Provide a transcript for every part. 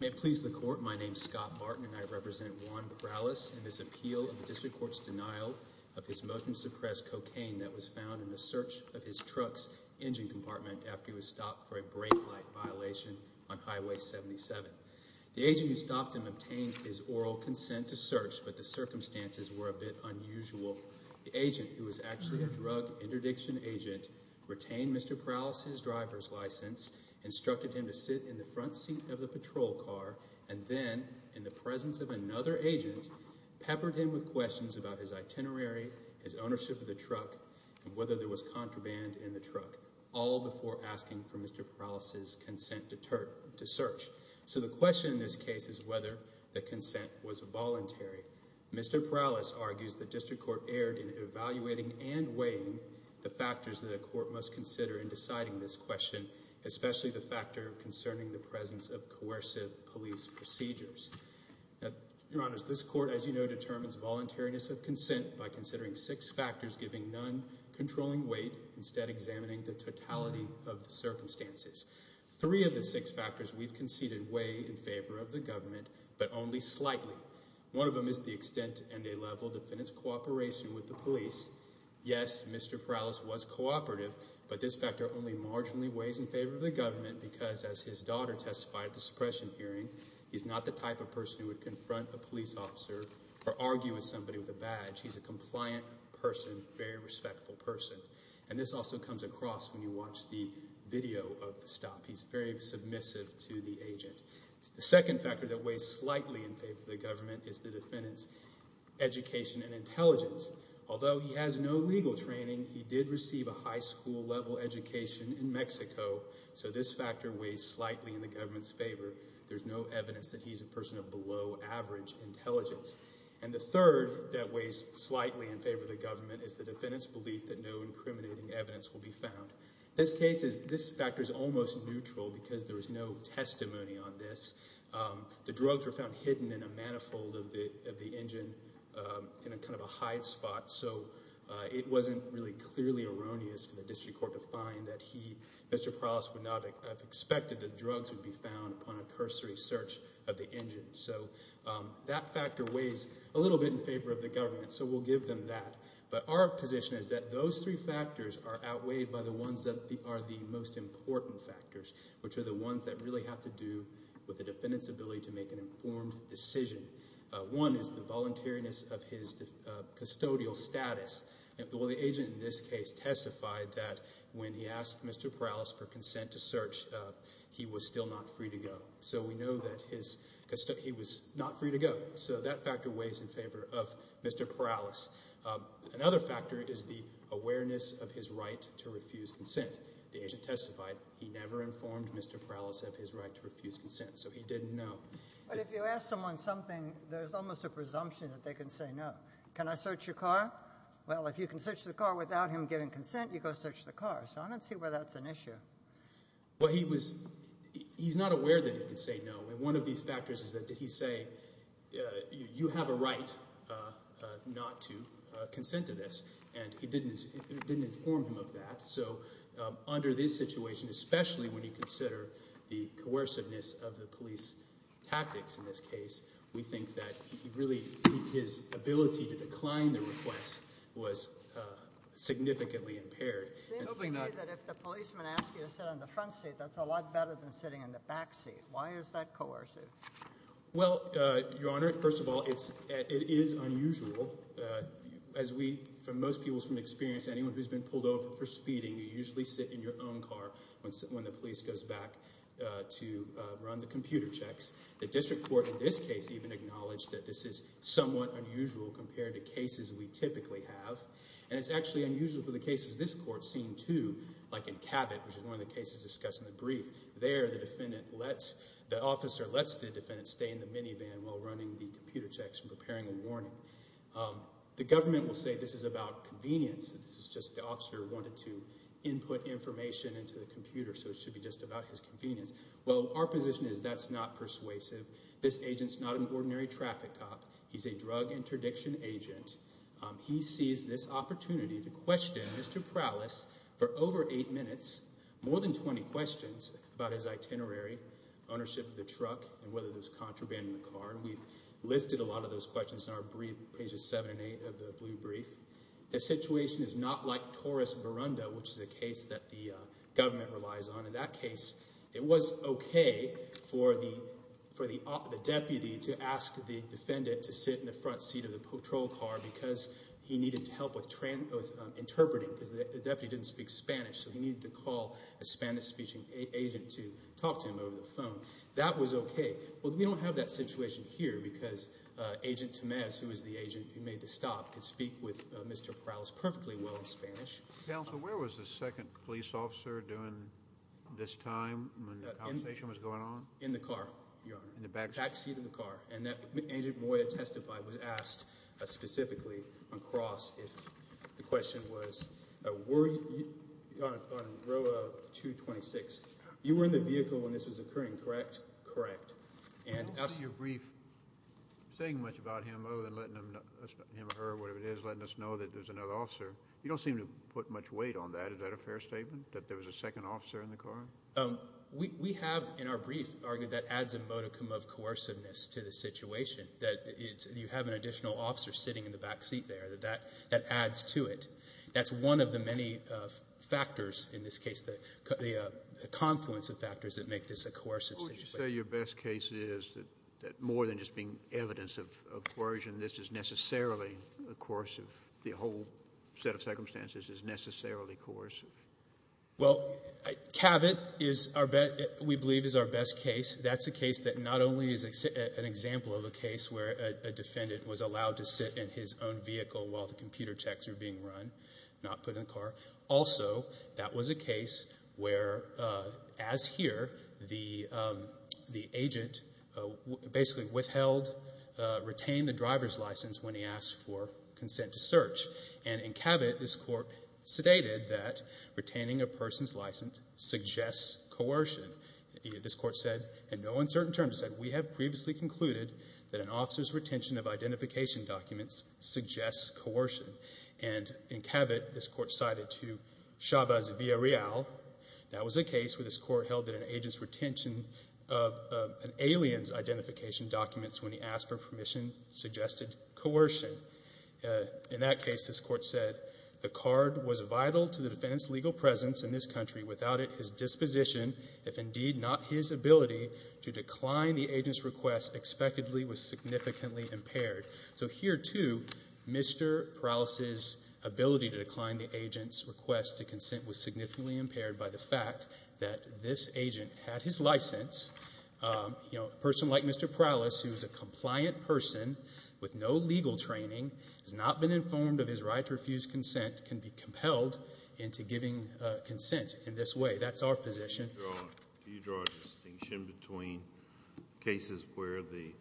May it please the Court, my name is Scott Martin and I represent Juan Perales in this appeal in the District Court's denial of his motion to suppress cocaine that was found in the search of his truck's engine compartment after he was stopped for a brake light violation on Highway 77. The agent who stopped him obtained his oral consent to search, but the circumstances were a bit unusual. The agent, who was actually a drug interdiction agent, retained Mr. Perales' driver's license and instructed him to sit in the front seat of the patrol car and then, in the presence of another agent, peppered him with questions about his itinerary, his ownership of the truck, and whether there was contraband in the truck, all before asking for Mr. Perales' consent to search. So the question in this case is whether the consent was voluntary. Mr. Perales argues the District Court erred in evaluating and weighing the factors that the Court must consider in deciding this question, especially the factor concerning the presence of coercive police procedures. Your Honors, this Court, as you know, determines voluntariness of consent by considering six factors, giving none, controlling weight, instead examining the totality of the circumstances. Three of the six factors we've conceded weigh in favor of the government, but only slightly. One of them is the extent and a level of defendant's cooperation with the police. Yes, Mr. Perales was cooperative, but this factor only marginally weighs in favor of the government because, as his daughter testified at the suppression hearing, he's not the type of person who would confront a police officer or argue with somebody with a badge. He's a compliant person, very respectful person. And this also comes across when you watch the video of the stop. He's very submissive to the agent. The second factor that weighs slightly in favor of the government is the defendant's education and intelligence. Although he has no legal training, he did receive a high school level education in Mexico, so this factor weighs slightly in the government's favor. There's no evidence that he's a person of below average intelligence. And the third that weighs slightly in favor of the government is the defendant's belief that no incriminating evidence will be found. This case is, this factor is almost neutral because there is no testimony on this. The drugs were found hidden in a manifold of the engine in a kind of a hide spot, so it wasn't really clearly erroneous for the district court to find that he, Mr. Perales, would not have expected that drugs would be found upon a cursory search of the engine. So that factor weighs a little bit in favor of the government, so we'll give them that. But our position is that those three factors are outweighed by the ones that are the most important. One is the defendant's ability to make an informed decision. One is the voluntariness of his custodial status. The agent in this case testified that when he asked Mr. Perales for consent to search, he was still not free to go. So we know that he was not free to go. So that factor weighs in favor of Mr. Perales. Another factor is the awareness of his right to refuse consent. The agent testified he never informed Mr. Perales of his right to refuse consent. So he didn't know. But if you ask someone something, there's almost a presumption that they can say no. Can I search your car? Well, if you can search the car without him giving consent, you go search the car. So I don't see why that's an issue. Well, he's not aware that he can say no. One of these factors is that he say, you have a right not to consent to this. And it didn't inform him of that. So under this situation, especially when you consider the coerciveness of the police tactics in this case, we think that he really, his ability to decline the request was significantly impaired. It seems to me that if the policeman asked you to sit in the front seat, that's a lot better than sitting in the back seat. Why is that coercive? Well, Your Honor, first of all, it is unusual. As we, for most people from experience, anyone who's been pulled over for speeding, you usually sit in your own car when the police goes back to run the computer checks. The district court in this case even acknowledged that this is somewhat unusual compared to cases we typically have. And it's actually unusual for the cases this court's seen too. Like in Cabot, which is one of the cases discussed in the brief. There the defendant lets, the officer lets the defendant stay in the minivan while running the computer checks and preparing a warning. The government will say this is about convenience, that this is just the officer wanted to input information into the computer so it should be just about his convenience. Well, our position is that's not persuasive. This agent's not an ordinary traffic cop. He's a drug interdiction agent. He sees this opportunity to question Mr. Prowlis for over eight minutes, more than 20 questions about his itinerary, ownership of the truck, and whether there's contraband in the car. We've listed a lot of those questions in our brief, pages 7 and 8 of the blue brief. The situation is not like Torres Verunda, which is a case that the government relies on. In that case, it was okay for the deputy to ask the defendant to sit in the front seat of the patrol car because he needed help with interpreting because the deputy didn't speak Spanish so he needed to call a Spanish-speaking agent to talk to him over the phone. That was okay. Well, we don't have that situation here because Agent Tamez, who is the agent who made the stop, could speak with Mr. Prowlis perfectly well in Spanish. Counsel, where was the second police officer during this time when the conversation was going on? In the car, Your Honor. In the back seat? Back seat of the car. And Agent Moya testified, was asked specifically on cross if the question was, on row 226, you were in the vehicle when this was occurring, correct? Correct. I don't see your brief saying much about him other than him or her, whatever it is, letting us know that there's another officer. You don't seem to put much weight on that. Is that a fair statement, that there was a second officer in the car? We have, in our brief, argued that adds a modicum of coerciveness to the situation, that you have an additional officer sitting in the back seat there, that that adds to it. That's one of the many factors in this case, the confluence of factors that make this a I'd say your best case is that more than just being evidence of coercion, this is necessarily coercive, the whole set of circumstances is necessarily coercive. Well, Cabot is our best, we believe is our best case. That's a case that not only is an example of a case where a defendant was allowed to sit in his own vehicle while the computer checks were being run, not put in the car. Also, that was a case where, as here, the agent basically withheld, retained the driver's license when he asked for consent to search. And in Cabot, this court sedated that retaining a person's license suggests coercion. This court said, in no uncertain terms, it said, we have previously concluded that an officer's retention of identification documents suggests coercion. And in Cabot, this court cited to Chavez Villarreal, that was a case where this court held that an agent's retention of an alien's identification documents when he asked for permission suggested coercion. In that case, this court said, the card was vital to the defendant's legal presence in this country. Without it, his disposition, if indeed not his ability, to decline the agent's request expectedly was significantly impaired. So here, too, Mr. Prowlis's ability to decline the agent's request to consent was significantly impaired by the fact that this agent had his license, you know, a person like Mr. Prowlis who is a compliant person with no legal training, has not been informed of his right to refuse consent, can be compelled into giving consent in this way. That's our position. Do you draw a distinction between cases where the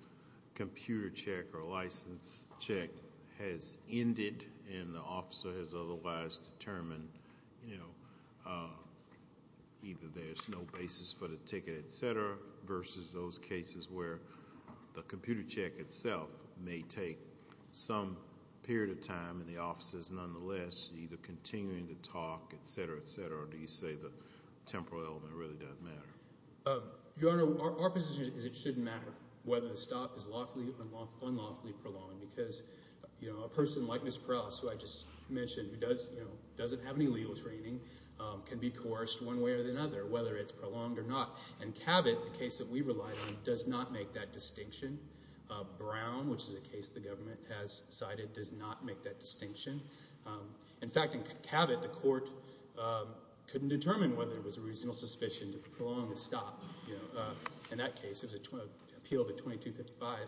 computer check or license check has ended and the officer has otherwise determined, you know, either there's no basis for the ticket, et cetera, versus those cases where the computer check itself may take some period of time and the officer is nonetheless either continuing to talk, et cetera, et cetera, or do you say the temporal element really doesn't matter? Your Honor, our position is it shouldn't matter whether the stop is lawfully or unlawfully prolonged because, you know, a person like Mr. Prowlis, who I just mentioned, who doesn't have any legal training, can be coerced one way or another, whether it's prolonged or not. In Cabot, the case that we relied on, does not make that distinction. Brown, which is a case the government has cited, does not make that distinction. In fact, in Cabot, the court couldn't determine whether it was a reasonable suspicion to prolong the stop. In that case, it was an appeal to 2255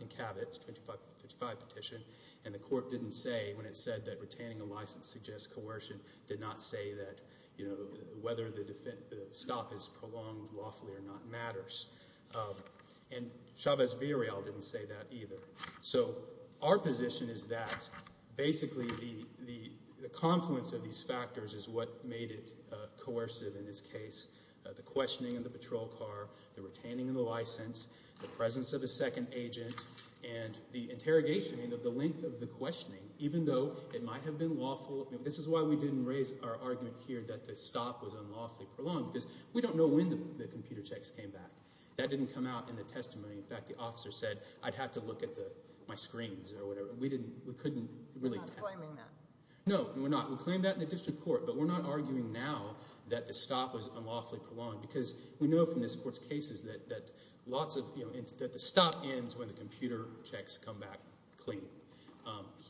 in Cabot, 2555 petition, and the court didn't say when it said that retaining a license suggests coercion, did not say that, you know, whether the stop is prolonged lawfully or not matters. And Chavez-Viriel didn't say that either. So our position is that basically the confluence of these factors is what made it coercive in this case, the questioning of the patrol car, the retaining of the license, the presence of a second agent, and the interrogation of the length of the questioning, even though it might have been lawful. This is why we didn't raise our argument here that the stop was unlawfully prolonged, because we don't know when the computer checks came back. That didn't come out in the testimony. In fact, the officer said, I'd have to look at my screens or whatever. We didn't, we couldn't really tell. You're not claiming that. No, we're not. We claimed that in the district court, but we're not arguing now that the stop was unlawfully prolonged, because we know from this court's cases that lots of, you know, that the stop ends when the computer checks come back clean.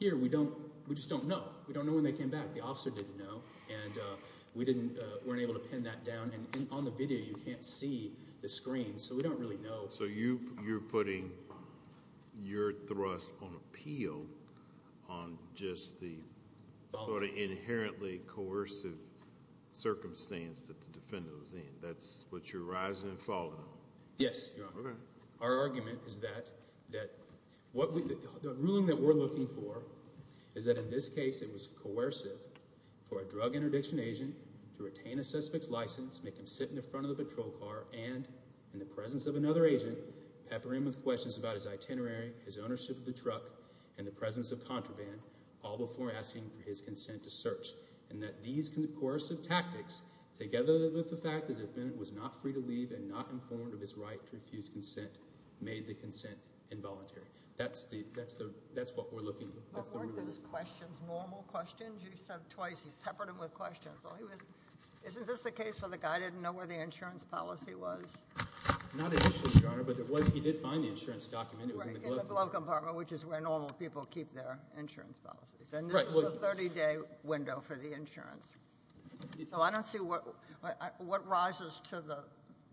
Here we don't, we just don't know. We don't know when they came back. The officer didn't know, and we weren't able to pin that down, and on the video you can't see the screen, so we don't really know. So you, you're putting your thrust on appeal on just the sort of inherently coercive circumstance that the defendant was in. That's what you're rising and falling on. Yes, Your Honor. Okay. Our argument is that, that what we, the ruling that we're looking for is that in this case it was coercive for a drug interdiction agent to retain a suspect's license, make him sit in the front of the patrol car, and in the presence of another agent, pepper him with questions about his itinerary, his ownership of the truck, and the presence of contraband, all before asking for his consent to search, and that these coercive tactics, together with the fact that the defendant was not free to leave and not informed of his right to refuse consent, made the consent involuntary. That's the, that's the, that's what we're looking for. But weren't those questions normal questions? You said twice you peppered him with questions. Well, he was, isn't this the case where the guy didn't know where the insurance policy was? Not initially, Your Honor, but it was, he did find the insurance document, it was in the glove compartment. Right, in the glove compartment, which is where normal people keep their insurance policies. Right. And this was a 30-day window for the insurance. So I don't see what, what rises to the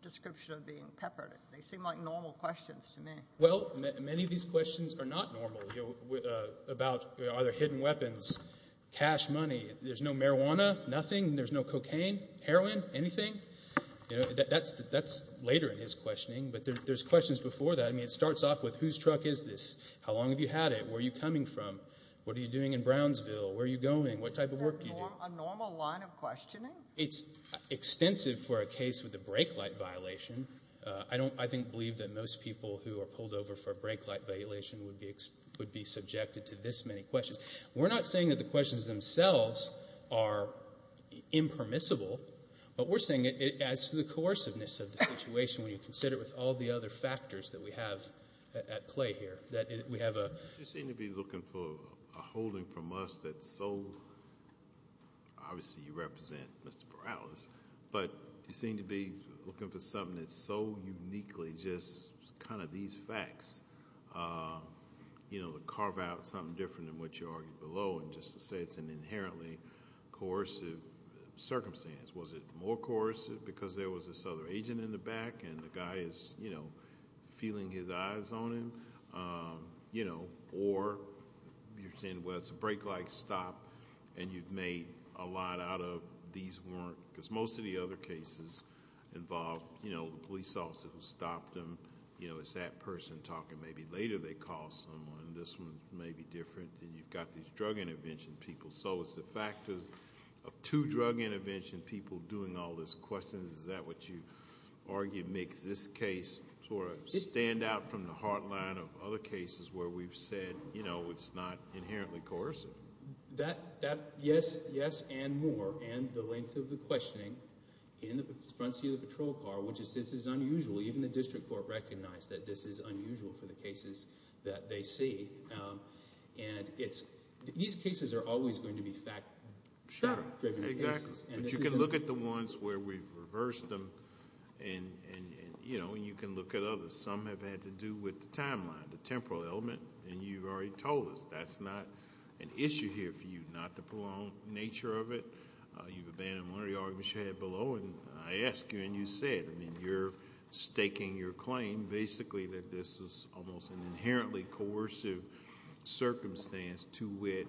description of being peppered. They seem like normal questions to me. Well, many of these questions are not normal, you know, about are there hidden weapons, cash money. There's no marijuana, nothing, there's no cocaine, heroin, anything, you know, that's, that's later in his questioning, but there's questions before that. I mean, it starts off with whose truck is this? How long have you had it? Where are you coming from? What are you doing in Brownsville? Where are you going? What type of work do you do? Is that a normal line of questioning? It's extensive for a case with a brake light violation. I don't, I think, believe that most people who are pulled over for a brake light violation would be, would be subjected to this many questions. We're not saying that the questions themselves are impermissible, but we're saying it adds to the coerciveness of the situation when you consider it with all the other factors that we have at play here. That we have a- You seem to be looking for a holding from us that's so, obviously you represent Mr. Perales, but you seem to be looking for something that's so uniquely just kind of these facts, you know, to carve out something different than what you argued below, and just to say it's an inherently coercive circumstance. Was it more coercive because there was this other agent in the back and the guy is, you know, feeling his eyes on him, you know, or you're saying, well, it's a brake light stop and you've made a lot out of these weren't, because most of the other cases involve, you know, drug intervention talking. Maybe later they call someone, this one may be different, and you've got these drug intervention people. So, it's the factors of two drug intervention people doing all these questions, is that what you argue makes this case sort of stand out from the heart line of other cases where we've said, you know, it's not inherently coercive? That, that, yes, yes and more, and the length of the questioning in the front seat of the patrol car, which is, this is unusual. Even the district court recognized that this is unusual for the cases that they see, and it's, these cases are always going to be fact driven cases, and this isn't. Sure, exactly. But you can look at the ones where we've reversed them and, you know, and you can look at others. Some have had to do with the timeline, the temporal element, and you've already told us that's not an issue here for you, not the prolonged nature of it. You've abandoned one of the arguments you had below, and I ask you and you said, I mean, you're staking your claim, basically, that this is almost an inherently coercive circumstance to wit,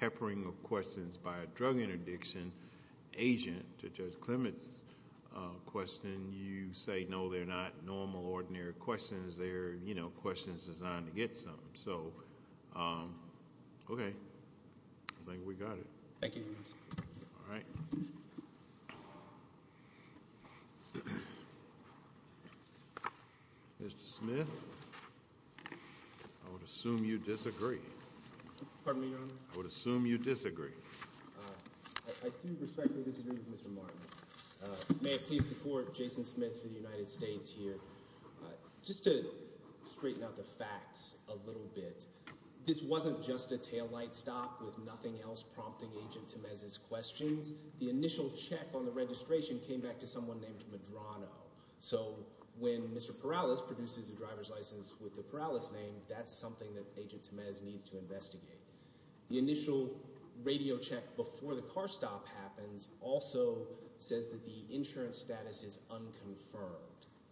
peppering of questions by a drug interdiction agent to Judge Clement's question. You say, no, they're not normal, ordinary questions, they're, you know, questions designed to get something. So, okay. I think we got it. Thank you. All right. Mr. Smith, I would assume you disagree. Pardon me, Your Honor? I would assume you disagree. I do respectfully disagree with Mr. Martin. May it please the Court, Jason Smith for the United States here. Just to straighten out the facts a little bit, this wasn't just a taillight stop with nothing else prompting Agent Tamez's questions. The initial check on the registration came back to someone named Medrano. So when Mr. Perales produces a driver's license with the Perales name, that's something that Agent Tamez needs to investigate. The initial radio check before the car stop happens also says that the insurance status is unconfirmed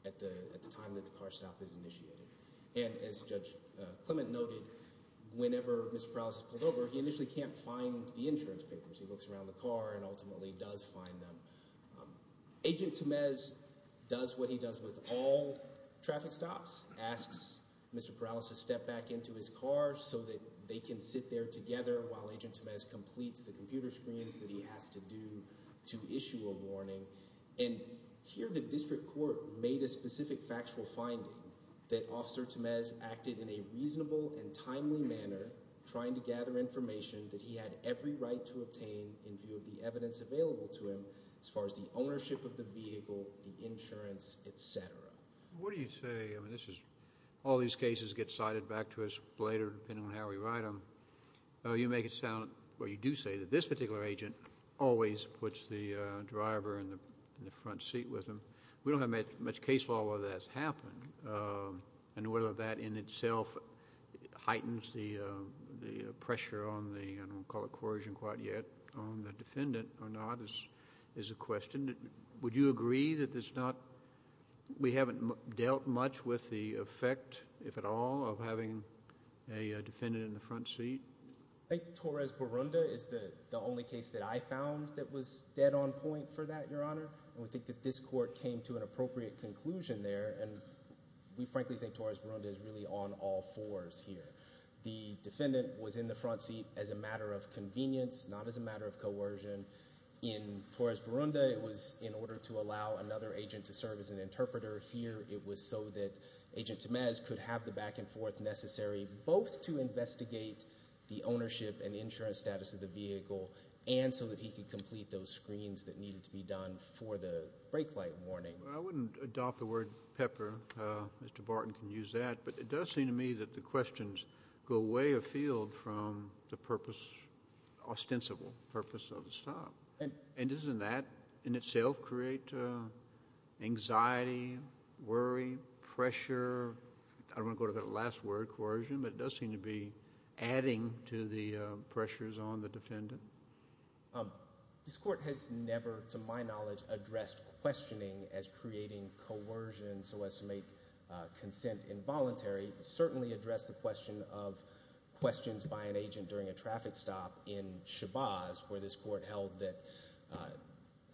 at the time that the car stop is initiated. And as Judge Clement noted, whenever Mr. Perales is pulled over, he initially can't find the insurance papers. He looks around the car and ultimately does find them. Agent Tamez does what he does with all traffic stops, asks Mr. Perales to step back into his car so that they can sit there together while Agent Tamez completes the computer screens that he has to do to issue a warning. And here the district court made a specific factual finding that Officer Tamez acted in a reasonable and timely manner, trying to gather information that he had every right to obtain in view of the evidence available to him as far as the ownership of the vehicle, the insurance, etc. What do you say, I mean this is, all these cases get cited back to us later depending on how we write them, you make it sound, or you do say that this particular agent always puts the driver in the front seat with him, we don't have much case law where that's happened, and whether that in itself heightens the pressure on the, I don't want to call it coercion quite yet, on the defendant or not is a question. Would you agree that it's not, we haven't dealt much with the effect, if at all, of having a defendant in the front seat? I think Torres-Borunda is the only case that I found that was dead on point for that, Your Honor. We frankly think Torres-Borunda is really on all fours here. The defendant was in the front seat as a matter of convenience, not as a matter of coercion. In Torres-Borunda it was in order to allow another agent to serve as an interpreter. Here it was so that Agent Tamez could have the back and forth necessary, both to investigate the ownership and insurance status of the vehicle, and so that he could complete those screens that needed to be done for the brake light warning. I wouldn't adopt the word pepper. Mr. Barton can use that, but it does seem to me that the questions go way afield from the purpose, ostensible purpose of the stop. And doesn't that in itself create anxiety, worry, pressure? I don't want to go to that last word, coercion, but it does seem to be adding to the pressures on the defendant. This Court has never, to my knowledge, addressed questioning as creating coercion so as to make consent involuntary. It certainly addressed the question of questions by an agent during a traffic stop in Chabaz, where this Court held that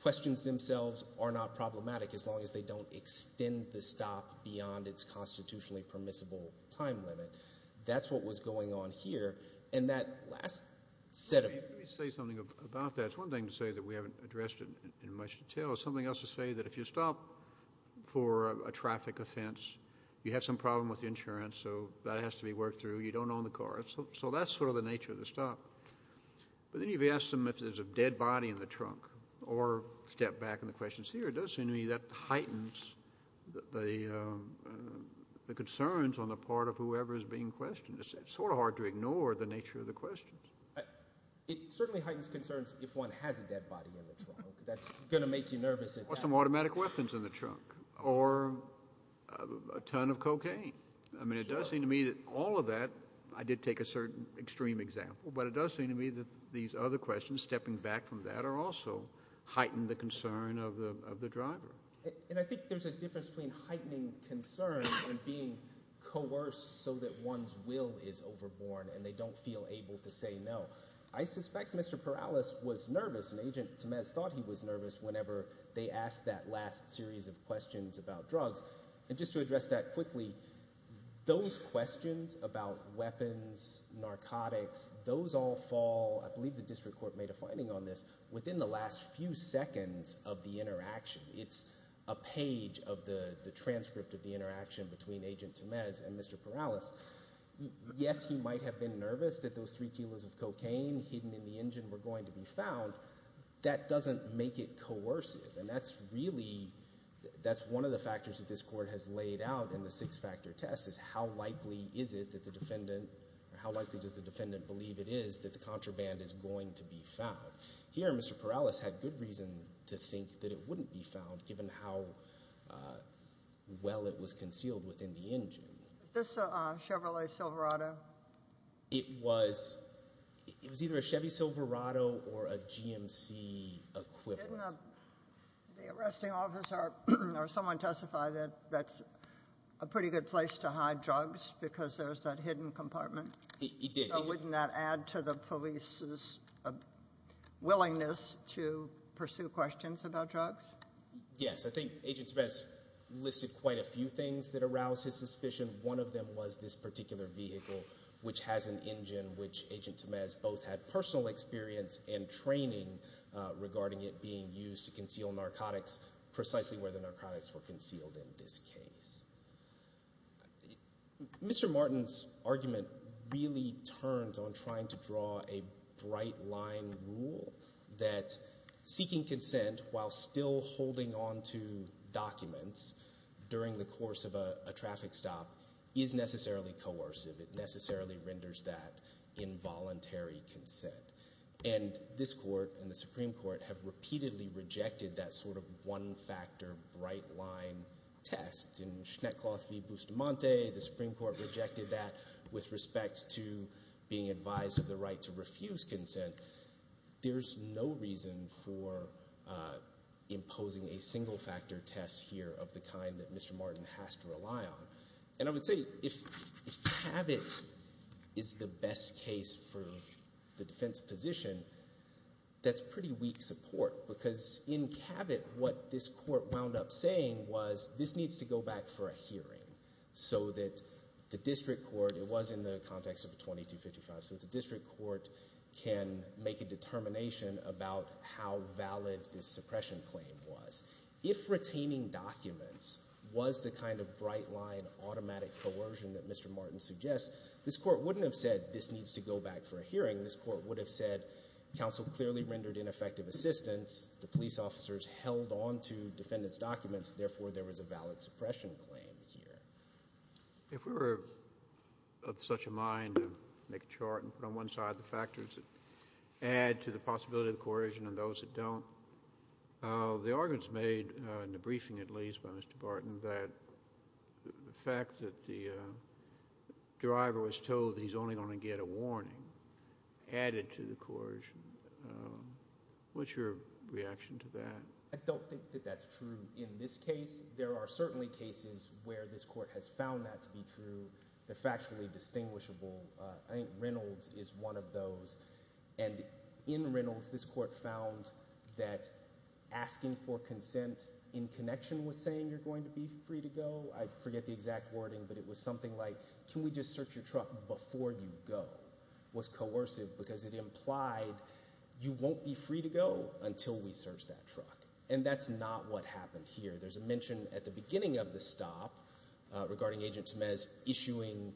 questions themselves are not problematic as long as they don't extend the stop beyond its constitutionally permissible time limit. That's what was going on here. And that last set of... Let me say something about that. It's one thing to say that we haven't addressed it in much detail. It's something else to say that if you stop for a traffic offense, you have some problem with the insurance, so that has to be worked through. You don't own the car. So that's sort of the nature of the stop. But then you've asked them if there's a dead body in the trunk or step back in the questions here. It does seem to me that heightens the concerns on the part of whoever is being questioned. It's sort of hard to ignore the nature of the questions. It certainly heightens concerns if one has a dead body in the trunk. That's going to make you nervous. Some automatic weapons in the trunk or a ton of cocaine. I mean, it does seem to me that all of that, I did take a certain extreme example, but it does seem to me that these other questions, stepping back from that, are also heighten the concern of the driver. And I think there's a difference between heightening concern and being coerced so that one's will is overborne and they don't feel able to say no. I suspect Mr. Perales was nervous and Agent Tamez thought he was nervous whenever they asked that last series of questions about drugs. And just to address that quickly, those questions about weapons, narcotics, those all fall, I believe the district court made a finding on this, within the last few seconds of the interaction. It's a page of the transcript of the interaction between Agent Tamez and Mr. Perales. Yes, he might have been nervous that those three kilos of cocaine hidden in the engine were going to be found. That doesn't make it coercive. And that's really, that's one of the factors that this court has laid out in the six-factor test is how likely is it that the defendant, or how likely does the defendant believe it is that the contraband is going to be found. Here, Mr. Perales had good reason to think that it wouldn't be found, given how well it was concealed within the engine. Was this a Chevrolet Silverado? It was. It was either a Chevy Silverado or a GMC equivalent. Didn't the arresting officer or someone testify that that's a pretty good place to hide drugs because there's that hidden compartment? It did. Wouldn't that add to the police's willingness to pursue questions about drugs? Yes. I think Agent Tamez listed quite a few things that aroused his suspicion. One of them was this particular vehicle, which has an engine, which Agent Tamez both had personal experience and training regarding it being used to conceal narcotics precisely where the narcotics were concealed in this case. Mr. Martin's argument really turns on trying to draw a bright line rule that seeking consent while still holding on to documents during the course of a traffic stop is necessarily coercive. It necessarily renders that involuntary consent, and this Court and the Supreme Court have in the case of Schneckloth v. Bustamante, the Supreme Court rejected that with respect to being advised of the right to refuse consent. There's no reason for imposing a single-factor test here of the kind that Mr. Martin has to rely on. I would say if Cabot is the best case for the defense position, that's pretty weak support because in Cabot, what this Court wound up saying was this needs to go back for a hearing so that the district court, it was in the context of a 2255, so the district court can make a determination about how valid this suppression claim was. If retaining documents was the kind of bright line automatic coercion that Mr. Martin suggests, this Court wouldn't have said this needs to go back for a hearing. This Court would have said counsel clearly rendered ineffective assistance, the police officers held on to defendant's documents, therefore there was a valid suppression claim here. If we were of such a mind to make a chart and put on one side the factors that add to the possibility of coercion and those that don't, the arguments made in the briefing at least by Mr. Barton that the fact that the driver was told that he's only going to get a warning added to the coercion, what's your reaction to that? I don't think that that's true in this case. There are certainly cases where this Court has found that to be true, they're factually distinguishable. I think Reynolds is one of those and in Reynolds, this Court found that asking for consent in connection with saying you're going to be free to go, I forget the exact wording, but it was something like can we just search your truck before you go was coercive because it implied you won't be free to go until we search that truck and that's not what happened here. There's a mention at the beginning of the stop regarding Agent Tamez issuing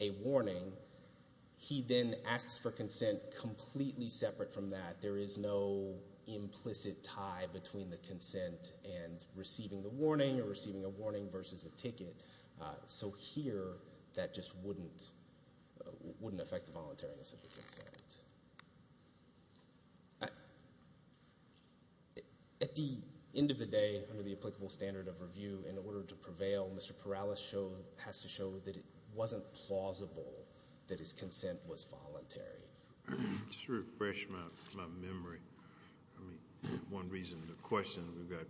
a warning. He then asks for consent completely separate from that. There is no implicit tie between the consent and receiving the warning or receiving a warning versus a ticket. So here, that just wouldn't affect the voluntariness of the consent. At the end of the day, under the applicable standard of review, in order to prevail, Mr. Perales has to show that it wasn't plausible that his consent was voluntary. Just to refresh my memory, I mean, one reason the question, we've got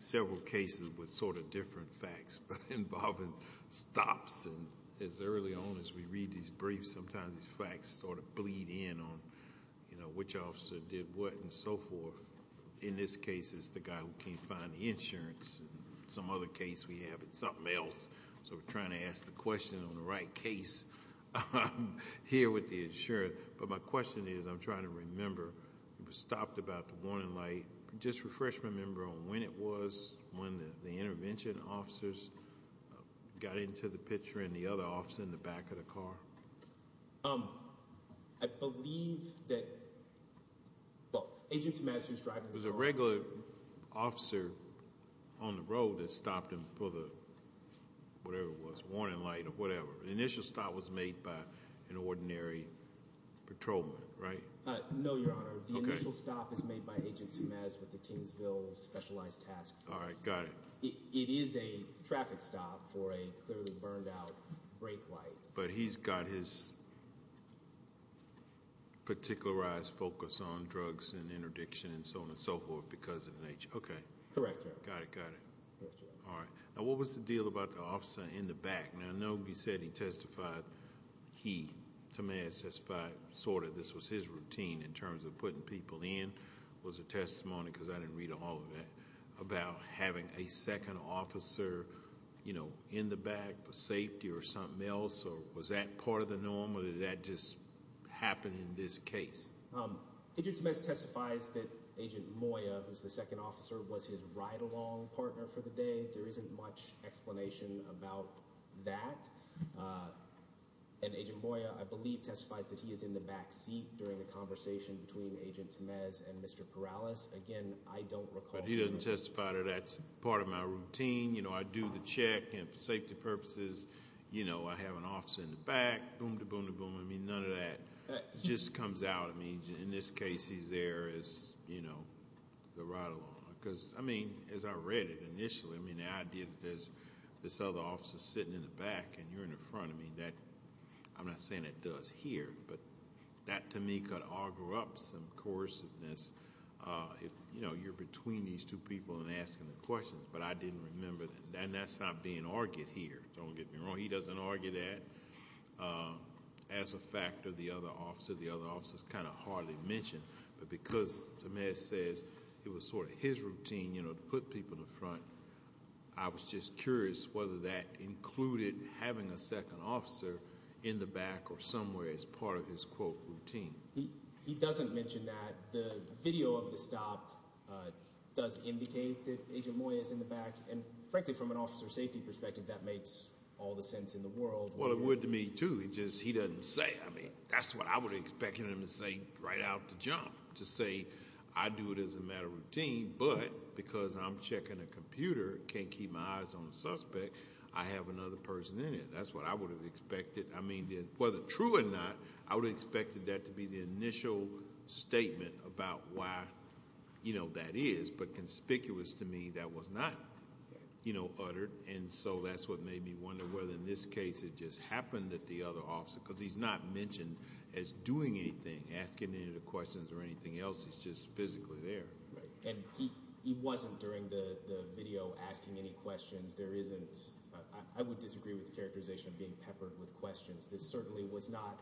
several cases with sort of different facts involving stops and as early on as we read these briefs, sometimes these facts sort of bleed in on which officer did what and so forth. In this case, it's the guy who can't find the insurance. Some other case we have, it's something else, so we're trying to ask the question on the right case here with the insurance, but my question is, I'm trying to remember, it was a refreshment member on when it was when the intervention officers got into the picture and the other officer in the back of the car? I believe that, well, Agent Sumas who's driving the car. It was a regular officer on the road that stopped him for the, whatever it was, warning light or whatever. The initial stop was made by an ordinary patrolman, right? No, Your Honor. Okay. The initial stop is made by Agent Sumas with the Kingsville Specialized Task Force. All right, got it. It is a traffic stop for a clearly burned out brake light. But he's got his particularized focus on drugs and interdiction and so on and so forth because of the nature. Okay. Correct, Your Honor. Got it, got it. Correct, Your Honor. All right. Now, what was the deal about the officer in the back? Now, I know you said he testified, he, Sumas testified sort of this was his routine in terms of putting people in was a testimony because I didn't read all of that about having a second officer, you know, in the back for safety or something else or was that part of the norm or did that just happen in this case? Agent Sumas testifies that Agent Moya, who's the second officer, was his ride-along partner for the day. There isn't much explanation about that and Agent Moya, I believe, testifies that he is in the back seat during the conversation between Agent Sumas and Mr. Perales. Again, I don't recall... But he doesn't testify that that's part of my routine, you know, I do the check and for safety purposes, you know, I have an officer in the back, boom-da-boom-da-boom, I mean, none of that just comes out, I mean, in this case he's there as, you know, the ride-along because, I mean, as I read it initially, I mean, the idea that there's this other officer sitting in the back and you're in the front, I mean, that... I'm not saying it does here, but that, to me, could auger up some coerciveness if, you know, you're between these two people and asking the questions, but I didn't remember that, and that's not being argued here, don't get me wrong, he doesn't argue that as a factor, the other officer, the other officer's kind of hardly mentioned, but because Sumas says it was sort of his routine, you know, to put people in the front, I was just curious whether that was part of his, quote, routine. He doesn't mention that, the video of the stop does indicate that Agent Moye is in the back, and frankly, from an officer safety perspective, that makes all the sense in the world. Well, it would to me, too, it just, he doesn't say, I mean, that's what I would have expected him to say right out the jump, to say, I do it as a matter of routine, but because I'm checking a computer, can't keep my eyes on the suspect, I have another person in it, that's what I would have expected, I mean, whether true or not, I would have expected that to be the initial statement about why, you know, that is, but conspicuous to me, that was not, you know, uttered, and so that's what made me wonder whether in this case it just happened that the other officer, because he's not mentioned as doing anything, asking any of the questions or anything else, he's just physically there. Right, and he wasn't during the video asking any questions, there isn't, I would disagree with the characterization of being peppered with questions, this certainly was not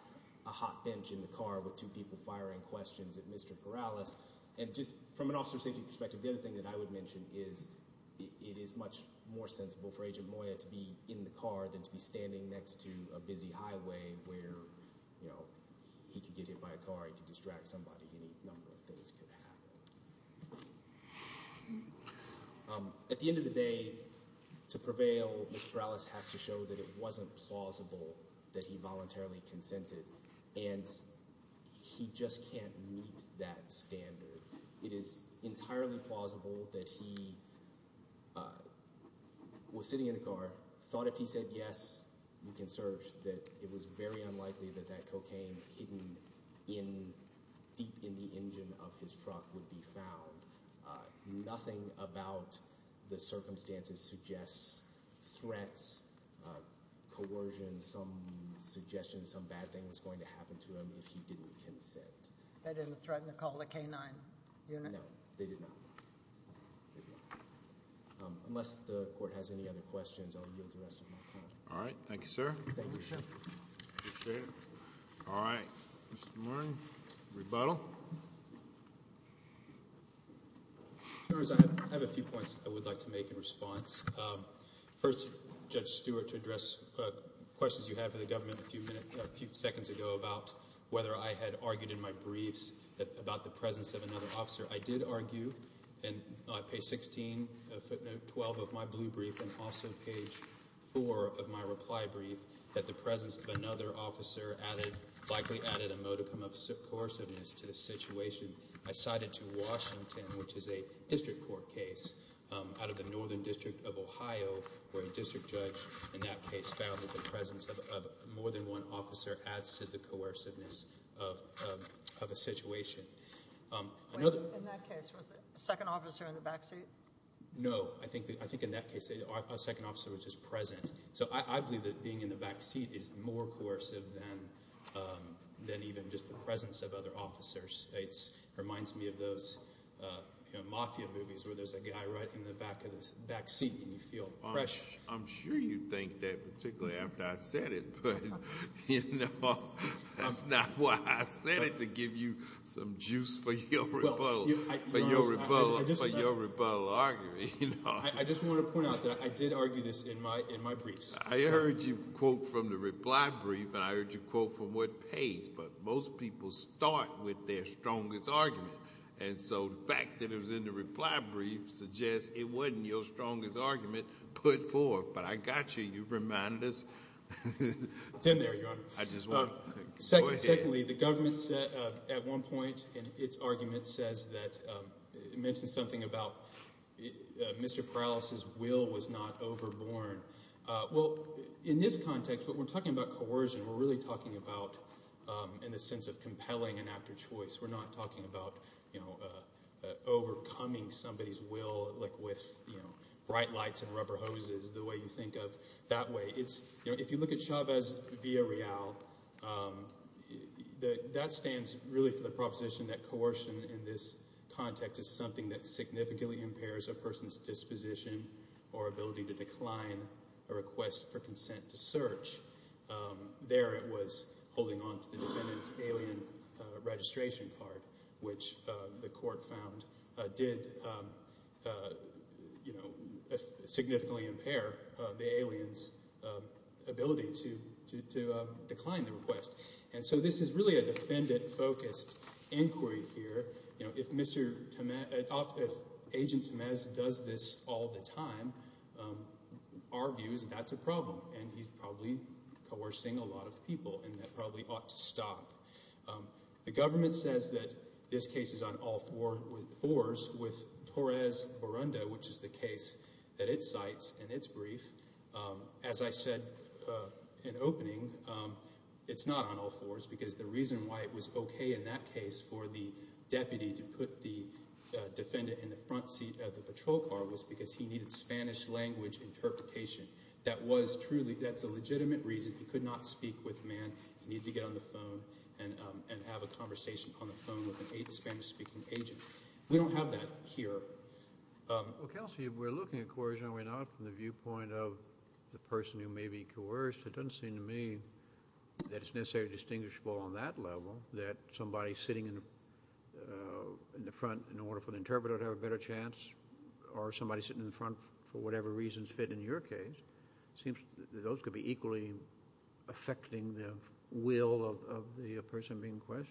a hot bench in the car with two people firing questions at Mr. Perales, and just from an officer safety perspective, the other thing that I would mention is, it is much more sensible for Agent Moya to be in the car than to be standing next to a busy highway where, you know, he could get hit by a car, he could distract somebody, any number of things could happen. At the end of the day, to prevail, Mr. Perales has to show that it wasn't plausible that he voluntarily consented, and he just can't meet that standard. It is entirely plausible that he was sitting in a car, thought if he said yes, we can search, that it was very unlikely that that cocaine hidden deep in the engine of his truck would be found. Nothing about the circumstances suggests threats, coercion, some suggestions, some bad things going to happen to him if he didn't consent. They didn't threaten to call the K-9 unit? No, they did not. Unless the court has any other questions, I'll yield the rest of my time. All right. Thank you, sir. Thank you, sir. Appreciate it. All right. Mr. Moran, rebuttal. I have a few points I would like to make in response. First, Judge Stewart, to address questions you had for the government a few seconds ago about whether I had argued in my briefs about the presence of another officer. I did argue in page 16, footnote 12 of my blue brief, and also page 4 of my reply brief, that the presence of another officer likely added a modicum of coerciveness to the situation. I cited to Washington, which is a district court case out of the Northern District of Ohio, where a district judge in that case found that the presence of more than one officer adds to the coerciveness of a situation. In that case, was the second officer in the back seat? No. I think in that case, a second officer was just present. So I believe that being in the back seat is more coercive than even just the presence of other officers. It reminds me of those mafia movies where there's a guy right in the back seat and you feel pressure. I'm sure you'd think that, particularly after I said it, but that's not why I said it, to give you some juice for your rebuttal argument. I just want to point out that I did argue this in my briefs. I heard you quote from the reply brief, and I heard you quote from what page, but most people start with their strongest argument. And so the fact that it was in the reply brief suggests it wasn't your strongest argument put forth. But I got you. You reminded us. It's in there, Your Honor. Secondly, the government said at one point in its argument says that it mentions something about Mr. Perales' will was not overborne. Well, in this context, when we're talking about coercion, we're really talking about in the sense of compelling and after choice. We're not talking about overcoming somebody's will with bright lights and rubber hoses, the way you think of that way. If you look at Chavez via Real, that stands really for the proposition that coercion in this context is something that significantly impairs a person's disposition or ability to decline a request for consent to search. There it was holding on to the defendant's alien registration card, which the court found did significantly impair the alien's ability to decline the request. And so this is really a defendant-focused inquiry here. If Agent Tamez does this all the time, our view is that's a problem, and he's probably coercing a lot of people, and that probably ought to stop. The government says that this case is on all fours with Torres-Borunda, which is the case that it cites in its brief. As I said in opening, it's not on all fours because the reason why it was okay in that case for the deputy to put the defendant in the front seat of the patrol car was because he needed Spanish-language interpretation. That's a legitimate reason. If you could not speak with a man, you need to get on the phone and have a conversation on the phone with a Spanish-speaking agent. We don't have that here. Well, Kelsey, if we're looking at coercion and we're not from the viewpoint of the person who may be coerced, it doesn't seem to me that it's necessarily distinguishable on that level that somebody sitting in the front in order for the interpreter to have a better chance or somebody sitting in the front for whatever reasons fit in your case. It seems that those could be equally affecting the will of the person being questioned.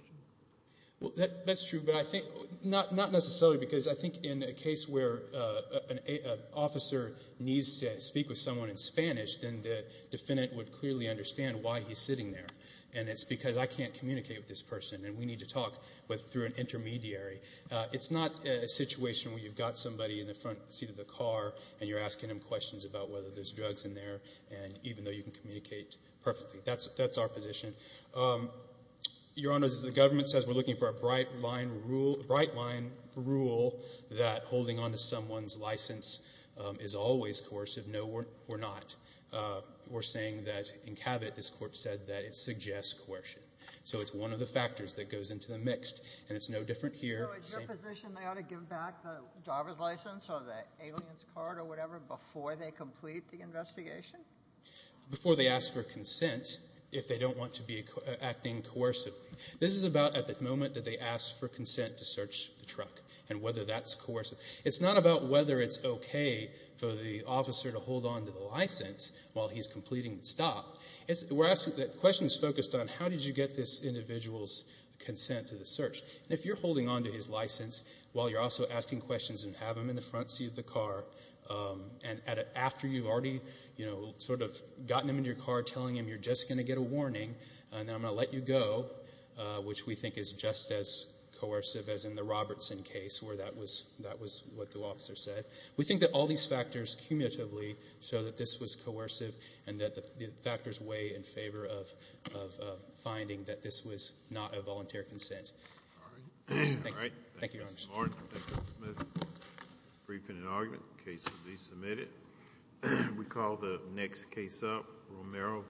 Well, that's true, but I think not necessarily because I think in a case where an officer needs to speak with someone in Spanish, then the defendant would clearly understand why he's sitting there, and it's because I can't communicate with this person and we need to talk through an intermediary. It's not a situation where you've got somebody in the front seat of the car and you're sitting there and even though you can communicate perfectly. That's our position. Your Honor, as the government says, we're looking for a bright-line rule that holding onto someone's license is always coercive. No, we're not. We're saying that in Cabot this Court said that it suggests coercion. So it's one of the factors that goes into the mixed, and it's no different here. So it's your position they ought to give back the driver's license or the alien's Before they ask for consent, if they don't want to be acting coercively. This is about at the moment that they ask for consent to search the truck and whether that's coercive. It's not about whether it's okay for the officer to hold onto the license while he's completing the stop. The question is focused on how did you get this individual's consent to the search. And if you're holding onto his license while you're also asking questions and have him in the front seat of the car, and after you've already gotten him in your car telling him you're just going to get a warning and I'm going to let you go, which we think is just as coercive as in the Robertson case where that was what the officer said. We think that all these factors cumulatively show that this was coercive and that the factors weigh in favor of finding that this was not a volunteer consent. Thank you, Your Honor. Thank you, Mr. Martin. Thank you, Mr. Smith. Briefing and argument. The case will be submitted. We call the next case up. Romero.